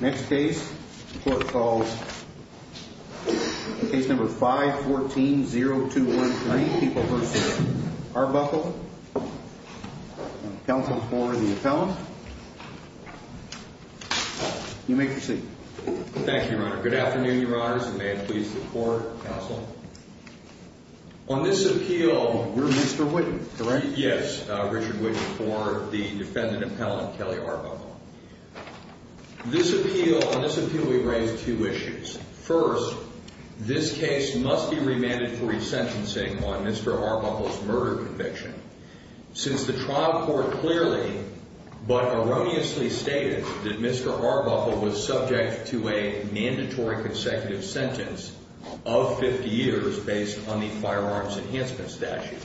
Next case, the court calls case number 514-0213, Peoples v. Arbuckle, counsel for the appellant. You may proceed. Thank you, Your Honor. Good afternoon, Your Honors. And may it please the court, counsel. On this appeal, you're Mr. Witten, correct? Yes, Richard Witten for the defendant appellant, Kelly Arbuckle. This appeal, on this appeal we raise two issues. First, this case must be remanded for resentencing on Mr. Arbuckle's murder conviction, since the trial court clearly, but erroneously stated that Mr. Arbuckle was subject to a mandatory consecutive sentence of 50 years based on the firearms enhancement statute.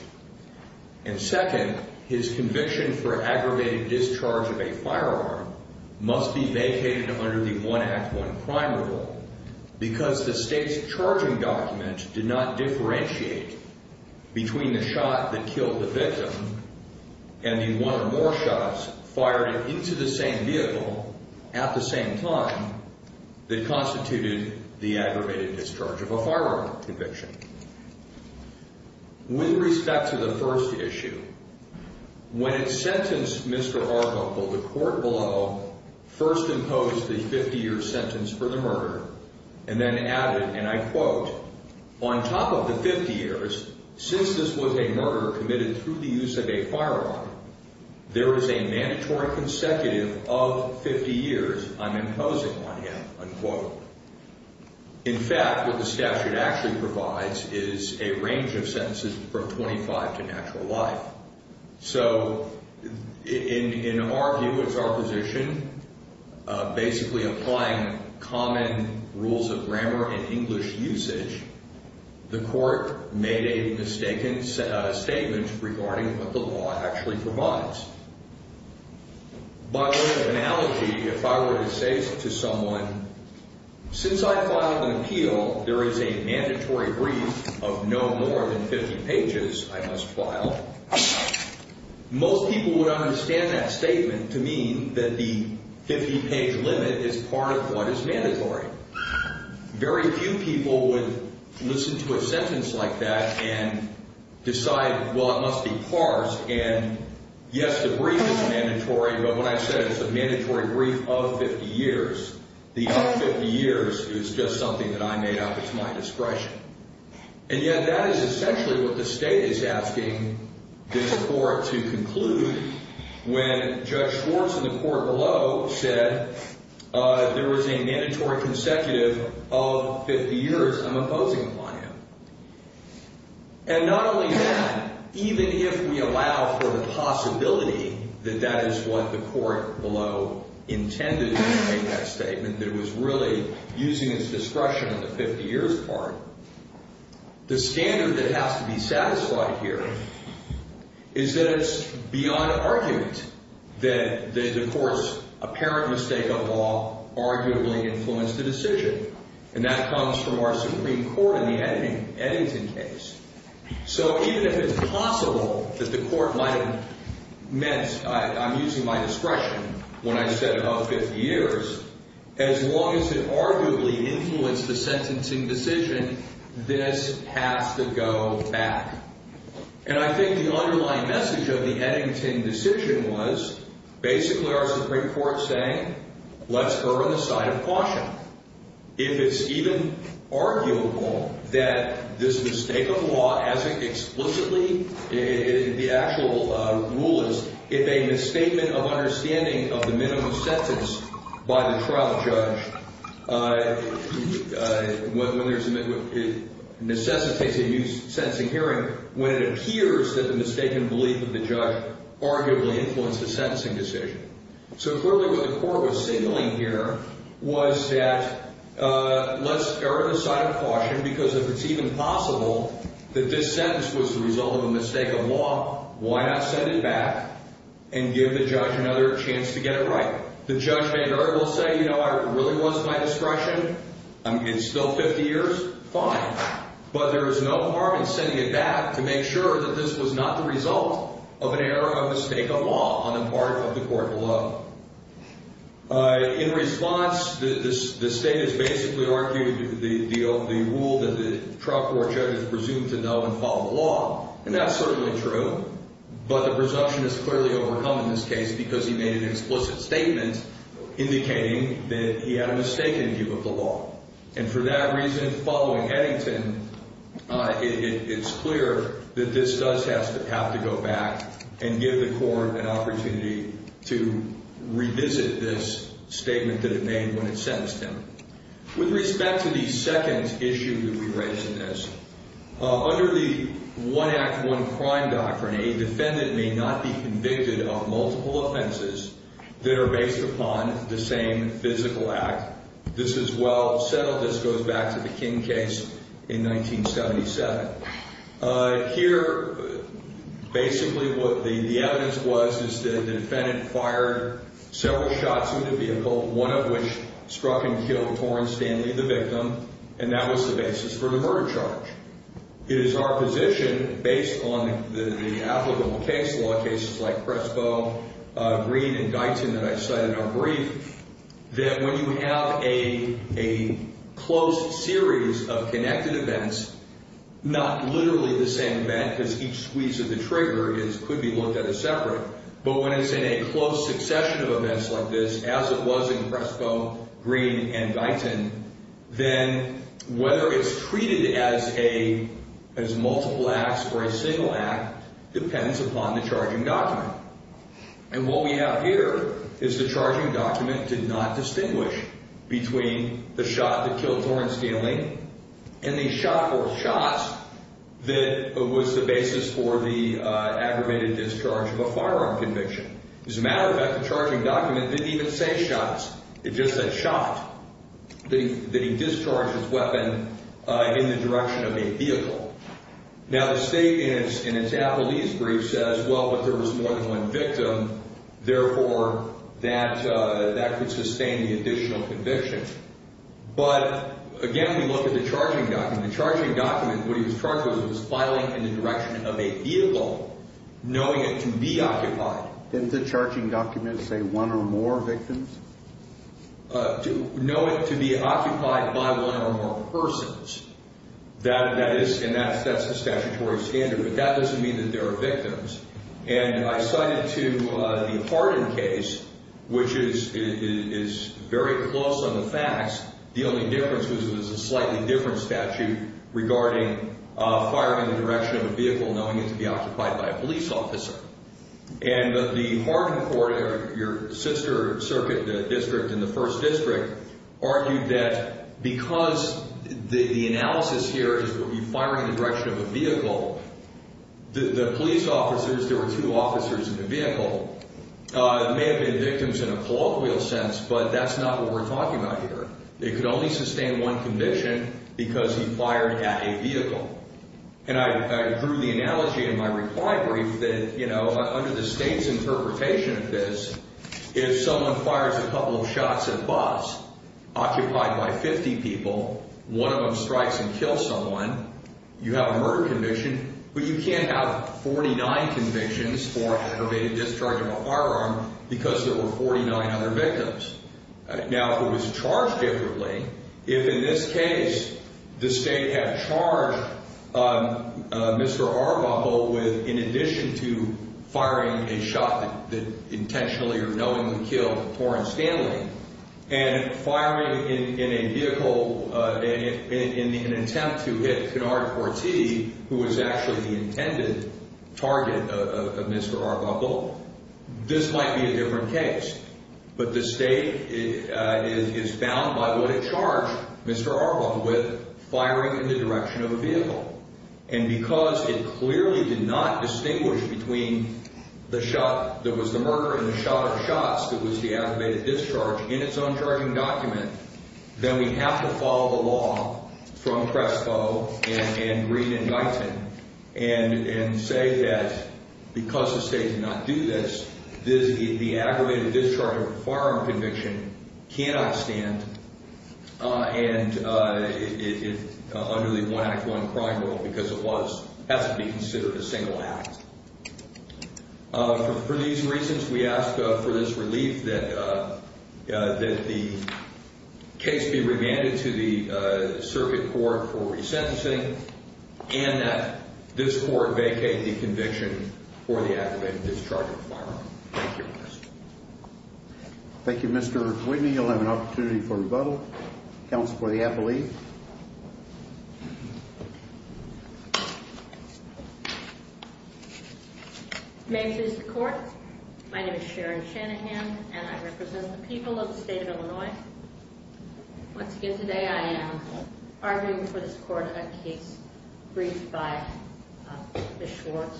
And second, his conviction for aggravated discharge of a firearm conviction can only be vacated under the one act one prime rule because the state's charging document did not differentiate between the shot that killed the victim and the one or more shots fired into the same vehicle at the same time that constituted the aggravated discharge of a firearm conviction. With respect to the first issue, when it sentenced Mr. Arbuckle, the court below first imposed the 50 year sentence for the murder and then added, and I quote, on top of the 50 years, since this was a murder committed through the use of a firearm, there is a mandatory consecutive of 50 years I'm imposing on him, unquote. In fact, what the statute actually provides is a range of sentences from 25 to natural life. So in our view, it's our position, basically applying common rules of grammar and English usage. The court made a mistaken statement regarding what the law actually provides. By way of analogy, if I were to say to someone, since I filed an appeal, there is a mandatory brief of no more than 50 pages I must file, most people would understand that statement to mean that the 50 page limit is part of what is mandatory. Very few people would listen to a sentence like that and decide, well, it must be parsed. And yes, the brief is mandatory. But when I said it's a mandatory brief of 50 years, the other 50 years is just something that I made up. It's my discretion. And yet that is essentially what the state is asking this court to conclude when Judge Schwartz in the court below said there was a mandatory consecutive of 50 years I'm imposing upon him. And not only that, even if we allow for the possibility that that is what the court below intended to make that statement, that it was really using its discretion on the 50 years part, the standard that has to be satisfied here is that it's beyond argument that the court's apparent mistake of law arguably influenced the decision. And that comes from our Supreme Court in the Eddington case. So even if it's possible that the court might have meant I'm using my discretion when I said about 50 years, as long as it arguably influenced the sentencing decision, this has to go back. And I think the underlying message of the Eddington decision was basically our Supreme Court saying let's err on the side of caution. If it's even arguable that this mistake of law as it explicitly, the actual rule is, if a misstatement of understanding of the when there's a necessity to use sentencing hearing when it appears that the mistaken belief of the judge arguably influenced the sentencing decision. So clearly what the court was signaling here was that let's err on the side of caution because if it's even possible that this sentence was the result of a mistake of law, why not send it back and give the judge another chance to get it right? The judge may very well say, you know, it really was my discretion. I mean, it's still 50 years, fine, but there is no harm in sending it back to make sure that this was not the result of an error of mistake of law on the part of the court below. In response, the state has basically argued the rule that the trial court judge is presumed to know and follow the law. And that's certainly true, but the presumption is clearly overcome in this case because he made an explicit statement indicating that he had a mistaken view of the law. And for that reason, following Eddington, it's clear that this does have to have to go back and give the court an opportunity to revisit this statement that it made when it sentenced him. With respect to the second issue that we raised in this, under the One Act, One Crime doctrine, a defendant may not be convicted of multiple offenses that are based upon the same physical act. This is well settled. This goes back to the King case in 1977. Here, basically what the evidence was is that the defendant fired several shots in the vehicle, one of which struck and killed Toren Stanley, the victim. And that was the basis for the murder charge. It is our position, based on the applicable case law, cases like Presco, Green, and Guyton that I cited in our brief, that when you have a closed series of connected events, not literally the same event, because each squeeze of the trigger could be looked at as separate, but when it's in a close succession of events like this, as it was in Presco, Green, and Guyton, then whether it's treated as multiple acts or a single act depends upon the charging document. And what we have here is the charging document did not distinguish between the shot that killed Toren Stanley and the shot, or shots, that was the basis for the aggravated discharge of a firearm conviction. As a matter of fact, the charging document didn't even say shots. It just said shot, that he discharged his weapon in the direction of a vehicle. Now, the state, in its appellee's brief, says, well, if there was more than one victim, therefore, that could sustain the additional conviction. But again, we look at the charging document. The charging document, what he was charged with was filing in the direction of a vehicle, knowing it to be occupied. Didn't the charging document say one or more victims? To know it to be occupied by one or more persons, and that's the statutory standard, but that doesn't mean that there are victims. And I cited to the Hardin case, which is very close on the facts. The only difference was it was a slightly different statute regarding firing in the direction of a vehicle, knowing it to be occupied by a police officer. And the Hardin court, your sister circuit district in the first district, argued that because the analysis here is that he fired in the direction of a vehicle, the police officers, there were two officers in the vehicle, may have been victims in a colloquial sense, but that's not what we're talking about here. It could only sustain one conviction because he fired at a vehicle. And I drew the analogy in my reply brief that, you know, under the state's interpretation of this, if someone fires a couple of shots at a bus, occupied by 50 people, one of them strikes and kills someone, you have a murder conviction, but you can't have 49 convictions for aggravated discharge of a firearm because there were 49 other victims. Now, if it was charged differently, if in this case the state had charged Mr. Arbuckle with, in addition to firing a shot that intentionally or knowingly killed Torrance Stanley, and firing in a vehicle in an attempt to hit Cunard Forti, who was actually the intended target of Mr. Arbuckle, this might be a different case. But the state is bound by what it charged Mr. Arbuckle with, firing in the direction of a vehicle. And because it clearly did not distinguish between the shot that was the murder and the shot of shots that was the aggravated discharge in its own charging document, then we have to follow the law from Crespo and Green and Guyton and say that because the state did not do this, the aggravated discharge of a firearm conviction cannot stand under the One Act, One Crime rule because it has to be considered a single act. For these reasons, we ask for this relief that the case be remanded to the circuit court for resentencing and that this court vacate the conviction for the aggravated discharge of a firearm. Thank you, Mr. Whitney. You'll have an opportunity for rebuttal. Counsel for the appellee. May I introduce the court? My name is Sharon Shanahan and I represent the people of the state of Illinois. Once again today, I am arguing for this court a case briefed by Ms. Schwartz.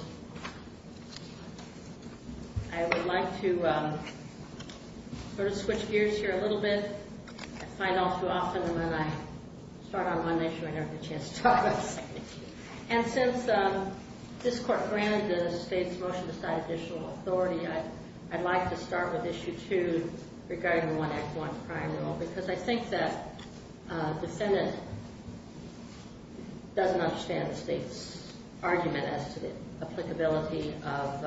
I would like to sort of switch gears here a little bit and find out too often and then I start on one issue and I never get a chance to talk about the second issue. And since this court granted the state's motion to cite additional authority, I'd like to start with issue two regarding the One Act, One Crime rule because I think that defendant doesn't understand the state's argument as to the applicability of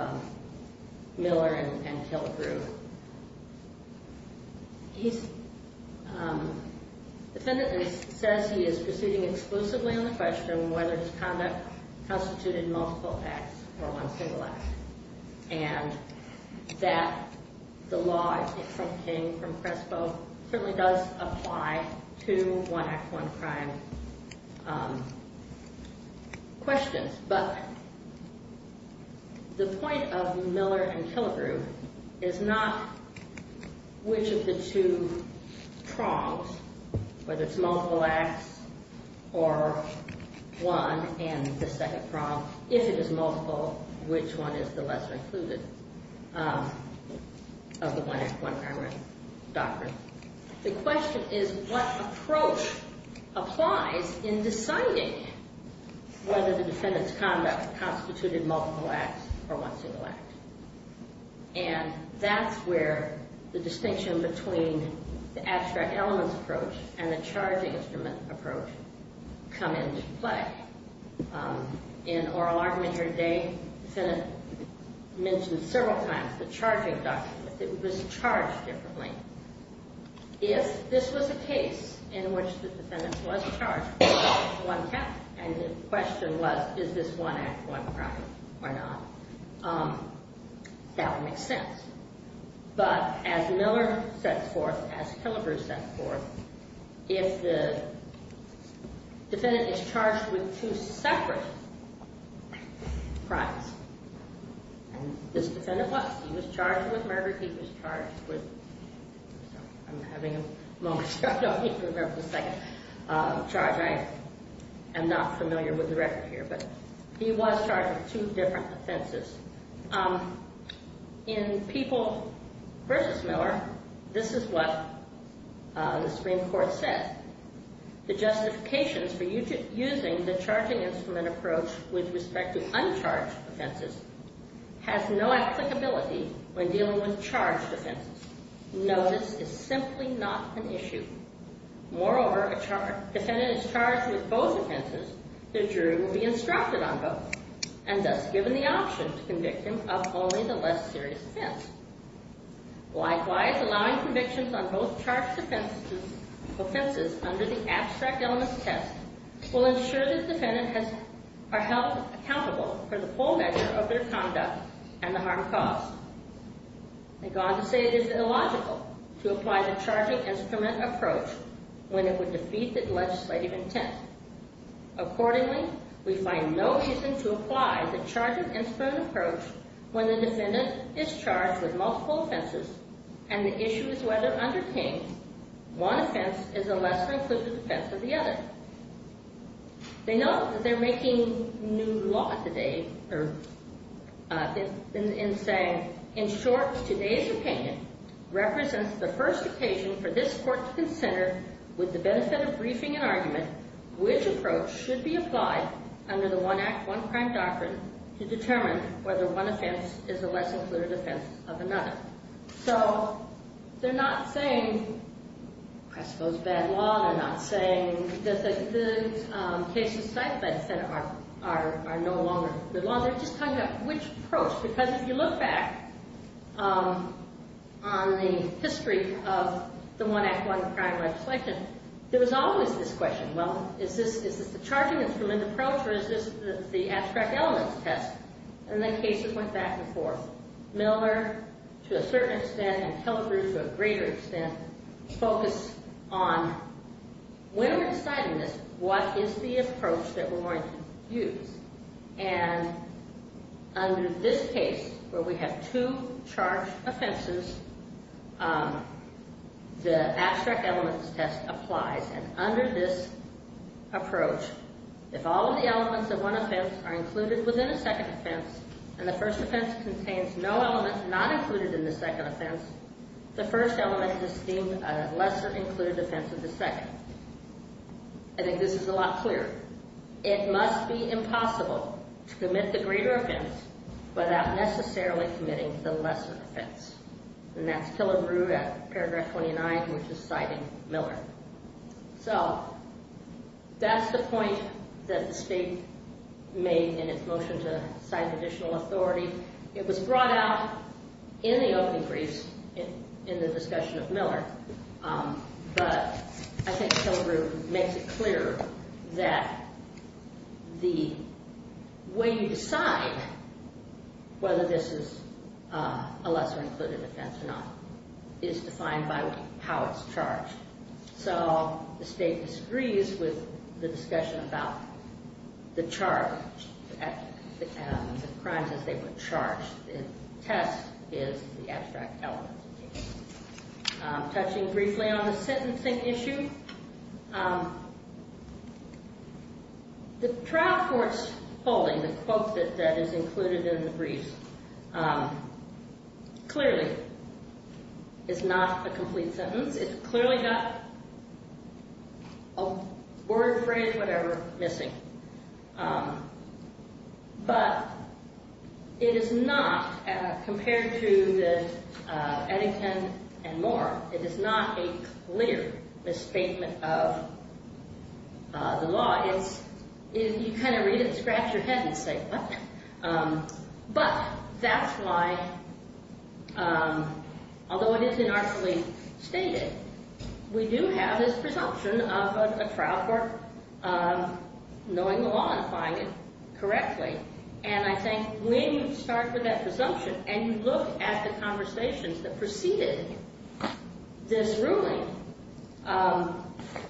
Miller and Killebrew. The defendant says he is proceeding exclusively on the question of whether his conduct constituted multiple acts or one single act. And that the law from King, from Presco, certainly does apply to One Act, One Crime questions, but the point of Miller and Killebrew is not which of the two prongs, whether it's multiple acts or one and the second prong, if it is multiple, which one is the lesser included of the One Act, One Crime doctrine. The question is what approach applies in deciding whether the defendant's conduct constituted multiple acts or one single act. And that's where the distinction between the abstract elements approach and the charging instrument approach come into play. In oral argument here today, the defendant mentioned several times the charging doctrine, but it was charged differently. If this was a case in which the defendant was charged with one act and the question was, is this One Act, One Crime or not, that would make sense. But as Miller sets forth, as Killebrew sets forth, if the defendant is charged with two separate crimes, this defendant was. He was charged with murder. He was charged with, I'm having a moment, so I don't even remember the second charge. I am not familiar with the record here, but he was charged with two different offenses. In People v. Miller, this is what the Supreme Court said. The justifications for using the charging instrument approach with respect to uncharged offenses has no applicability when dealing with charged offenses. Notice is simply not an issue. Moreover, if a defendant is charged with both offenses, the jury will be instructed on both and thus given the option to convict him of only the less serious offense. Likewise, allowing convictions on both charged offenses under the abstract elements test will ensure that the defendant are held accountable for the full measure of their conduct and the harm caused. They go on to say it is illogical to apply the charging instrument approach when it would defeat the legislative intent. Accordingly, we find no reason to apply the charging instrument approach when the defendant is charged with multiple offenses and the issue is whether under King, one offense is a less included offense of the other. They note that they're making new law today in saying, in short, today's opinion represents the first occasion for this court to consider with the benefit of briefing and argument which approach should be applied under the One Act, One Crime doctrine to determine whether one offense is a less included offense of another. So, they're not saying, I suppose, bad law. They're not saying that the cases cited by the Senate are no longer good law. They're just talking about which approach. Because if you look back on the history of the One Act, One Crime legislation, there was always this question, well, is this the charging instrument approach or is this the abstract elements test? And the cases went back and forth. Miller, to a certain extent, and Kellegrue, to a greater extent, focus on when we're deciding this, what is the approach that we're going to use? And under this case, where we have two charged offenses, the abstract elements test applies. And under this approach, if all of the elements of one offense are included within a second offense, and the first offense contains no elements not included in the second offense, the first element is deemed a lesser included offense of the second. I think this is a lot clearer. It must be impossible to commit the greater offense without necessarily committing the lesser offense. And that's Kellegrue at paragraph 29, which is citing Miller. So that's the point that the State made in its motion to cite additional authority. It was brought out in the opening briefs in the discussion of Miller. But I think Kellegrue makes it clear that the way you decide whether this is a lesser included offense or not is defined by how it's charged. So the State disagrees with the discussion about the charges, the crimes as they were charged. Test is the abstract element. Touching briefly on the sentencing issue, the trial court's holding, the quote that is included in the brief, clearly is not a complete sentence. It's clearly got a word, phrase, whatever missing. But it is not, compared to the Eddington and Moore, it is not a clear misstatement of the law. If you kind of read it, scratch your head and say, what? But that's why, although it is inarticulately stated, we do have this presumption of a trial court knowing the law and applying it correctly. And I think when you start with that presumption and you look at the conversations that preceded this ruling,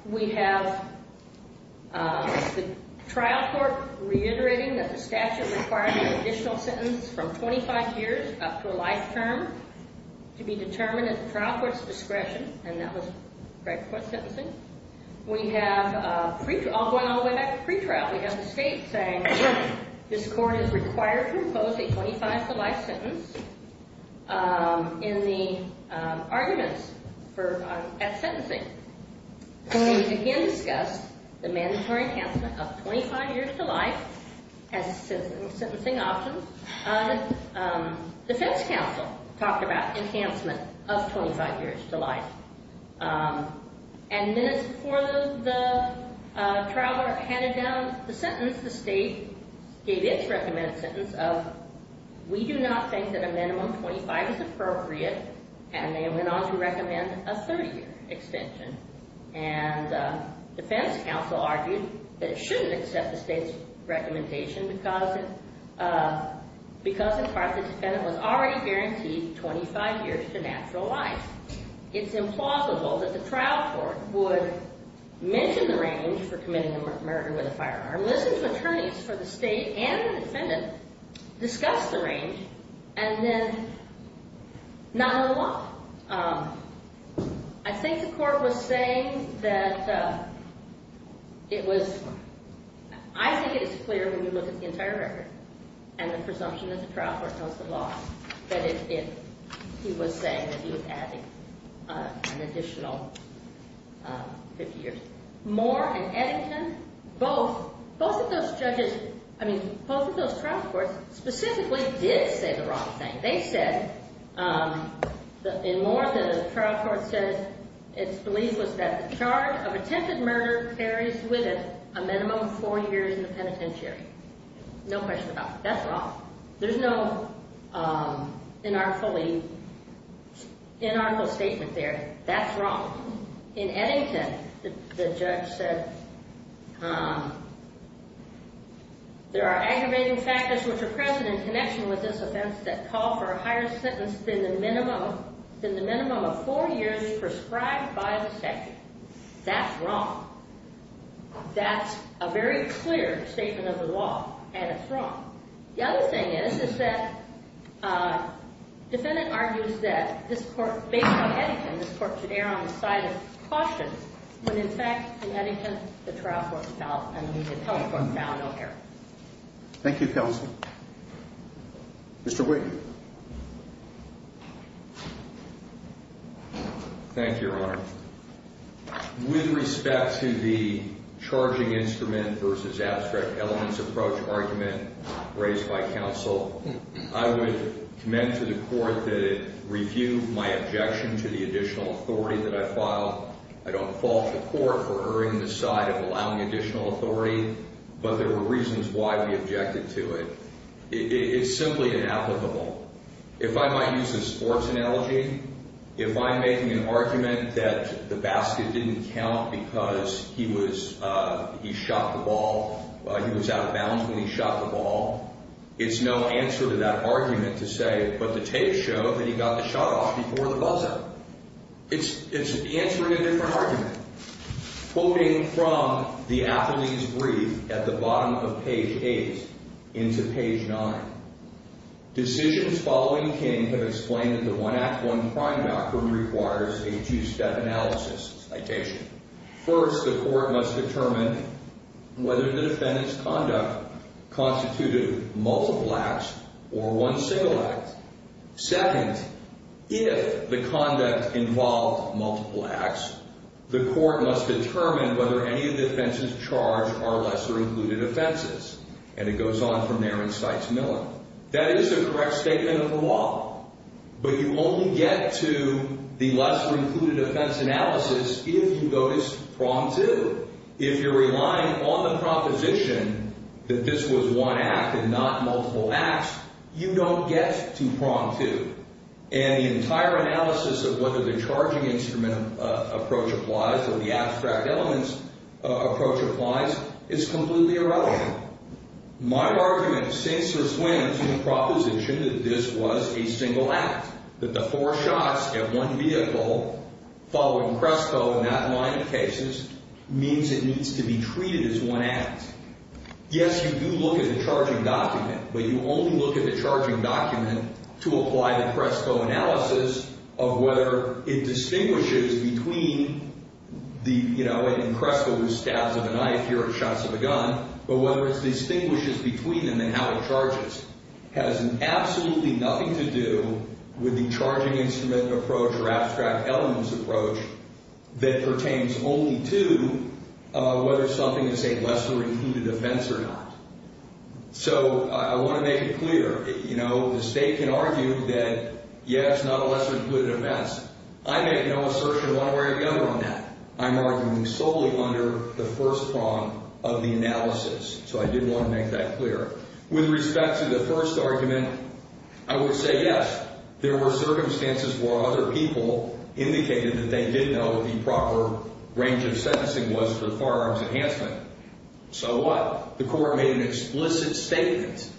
we have the trial court reiterating that the statute requires an additional sentence from 25 years up to a life term to be determined at the trial court's discretion. And that was correct for sentencing. We have, going all the way back to pretrial, we have the State saying this court is required to impose a 25 to life sentence in the arguments at sentencing. We again discussed the mandatory enhancement of 25 years to life as a sentencing option. The defense counsel talked about enhancement of 25 years to life. And minutes before the trial court handed down the sentence, the State gave its recommended sentence of, we do not think that a minimum 25 is appropriate, and they went on to recommend a 30-year extension. And the defense counsel argued that it shouldn't accept the State's recommendation because in part the defendant was already guaranteed 25 years to natural life. It's implausible that the trial court would mention the range for committing a murder with a firearm, listen to attorneys for the State, and the defendant, discuss the range, and then not let them off. I think the court was saying that it was, I think it is clear when you look at the entire record and the presumption that the trial court knows the law that it, he was saying that he was adding an additional 50 years. Moore and Eddington, both of those judges, both of those trial courts specifically did say the wrong thing. They said, in Moore, the trial court said it's belief was that the charge of attempted murder carries with it a minimum of four years in the penitentiary. No question about it. That's wrong. There's no inarticulate statement there. That's wrong. In Eddington, the judge said, there are aggravating factors which are present in connection with this offense that call for a higher sentence than the minimum of four years prescribed by the statute. That's wrong. That's a very clear statement of the law, and it's wrong. The other thing is that the defendant argues that this court, based on Eddington, and this court should err on the side of caution when, in fact, in Eddington, the trial court fell and the attempt court fell. No error. Thank you, counsel. Mr. Wigg. Thank you, Your Honor. With respect to the charging instrument raised by counsel, I would commend to the court that it refute my objection to the additional authority that I filed. I don't fault the court for erring on the side of allowing additional authority, but there were reasons why we objected to it. It's simply inapplicable. If I might use a sports analogy, if I'm making an argument that the basket didn't count because he was out of bounds when he shot the ball, it's no answer to that argument to say, but the tapes show that he got the shot off before the buzzer. It's answering a different argument. Quoting from the athlete's brief at the bottom of page 8 into page 9. Decisions following King have explained that the One Act, One Crime doctrine requires a two-step analysis. Citation. First, the court must determine whether the defendant's conduct constituted multiple acts or one single act. Second, if the conduct involved multiple acts, the court must determine whether any of the offenses charged are lesser-included offenses. And it goes on from there in Sykes-Miller. That is a correct statement of the law, but you only get to the lesser-included offense analysis if you go to Prom 2. If you're relying on the proposition that this was one act and not multiple acts, you don't get to Prom 2. And the entire analysis of whether the charging instrument approach applies or the abstract elements approach applies is completely irrelevant. My argument sinks or swims in the proposition that this was a single act. That the four shots at one vehicle following Crespo in that line of cases means it needs to be treated as one act. Yes, you do look at the charging document, but you only look at the charging document to apply the Crespo analysis of whether it distinguishes between the, you know, in Crespo who stabs with a knife here and shots with a gun, but whether it distinguishes between them and how it charges has absolutely nothing to do with the charging instrument approach or abstract elements approach that pertains only to whether something is a lesser-included offense or not. So, I want to make it clear. You know, the State can argue that yes, not a lesser-included offense. I make no assertion one way or the other on that. I'm arguing solely under the first prong of the analysis. So I did want to make that clear. With respect to the first argument, I would say yes, there were circumstances where other people indicated that they did know what the proper range of sentencing was for firearms enhancement. So what? The court made an explicit statement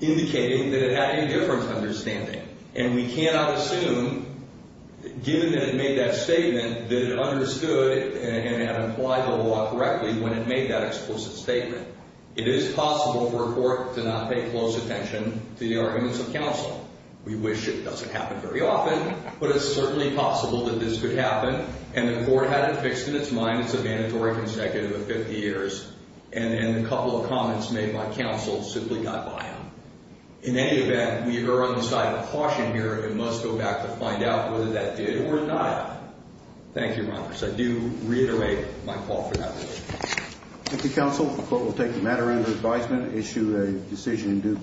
indicating that it had a difference understanding. And we cannot assume, given that it made that statement, that it understood and had implied the law correctly when it made that explicit statement. It is possible for a court to not pay close attention to the arguments of counsel. We wish it doesn't happen very often, but it's certainly possible that this could happen. And the court had it fixed in its mind as a mandatory consecutive of 50 years. And a couple of comments made by counsel simply got by them. In any event, we are on the side of caution here and must go back to find out whether that did or not happen. Thank you, Your Honor. I do reiterate my call for that motion. Thank you, counsel. The court will take the matter into advisement and issue a decision in due course.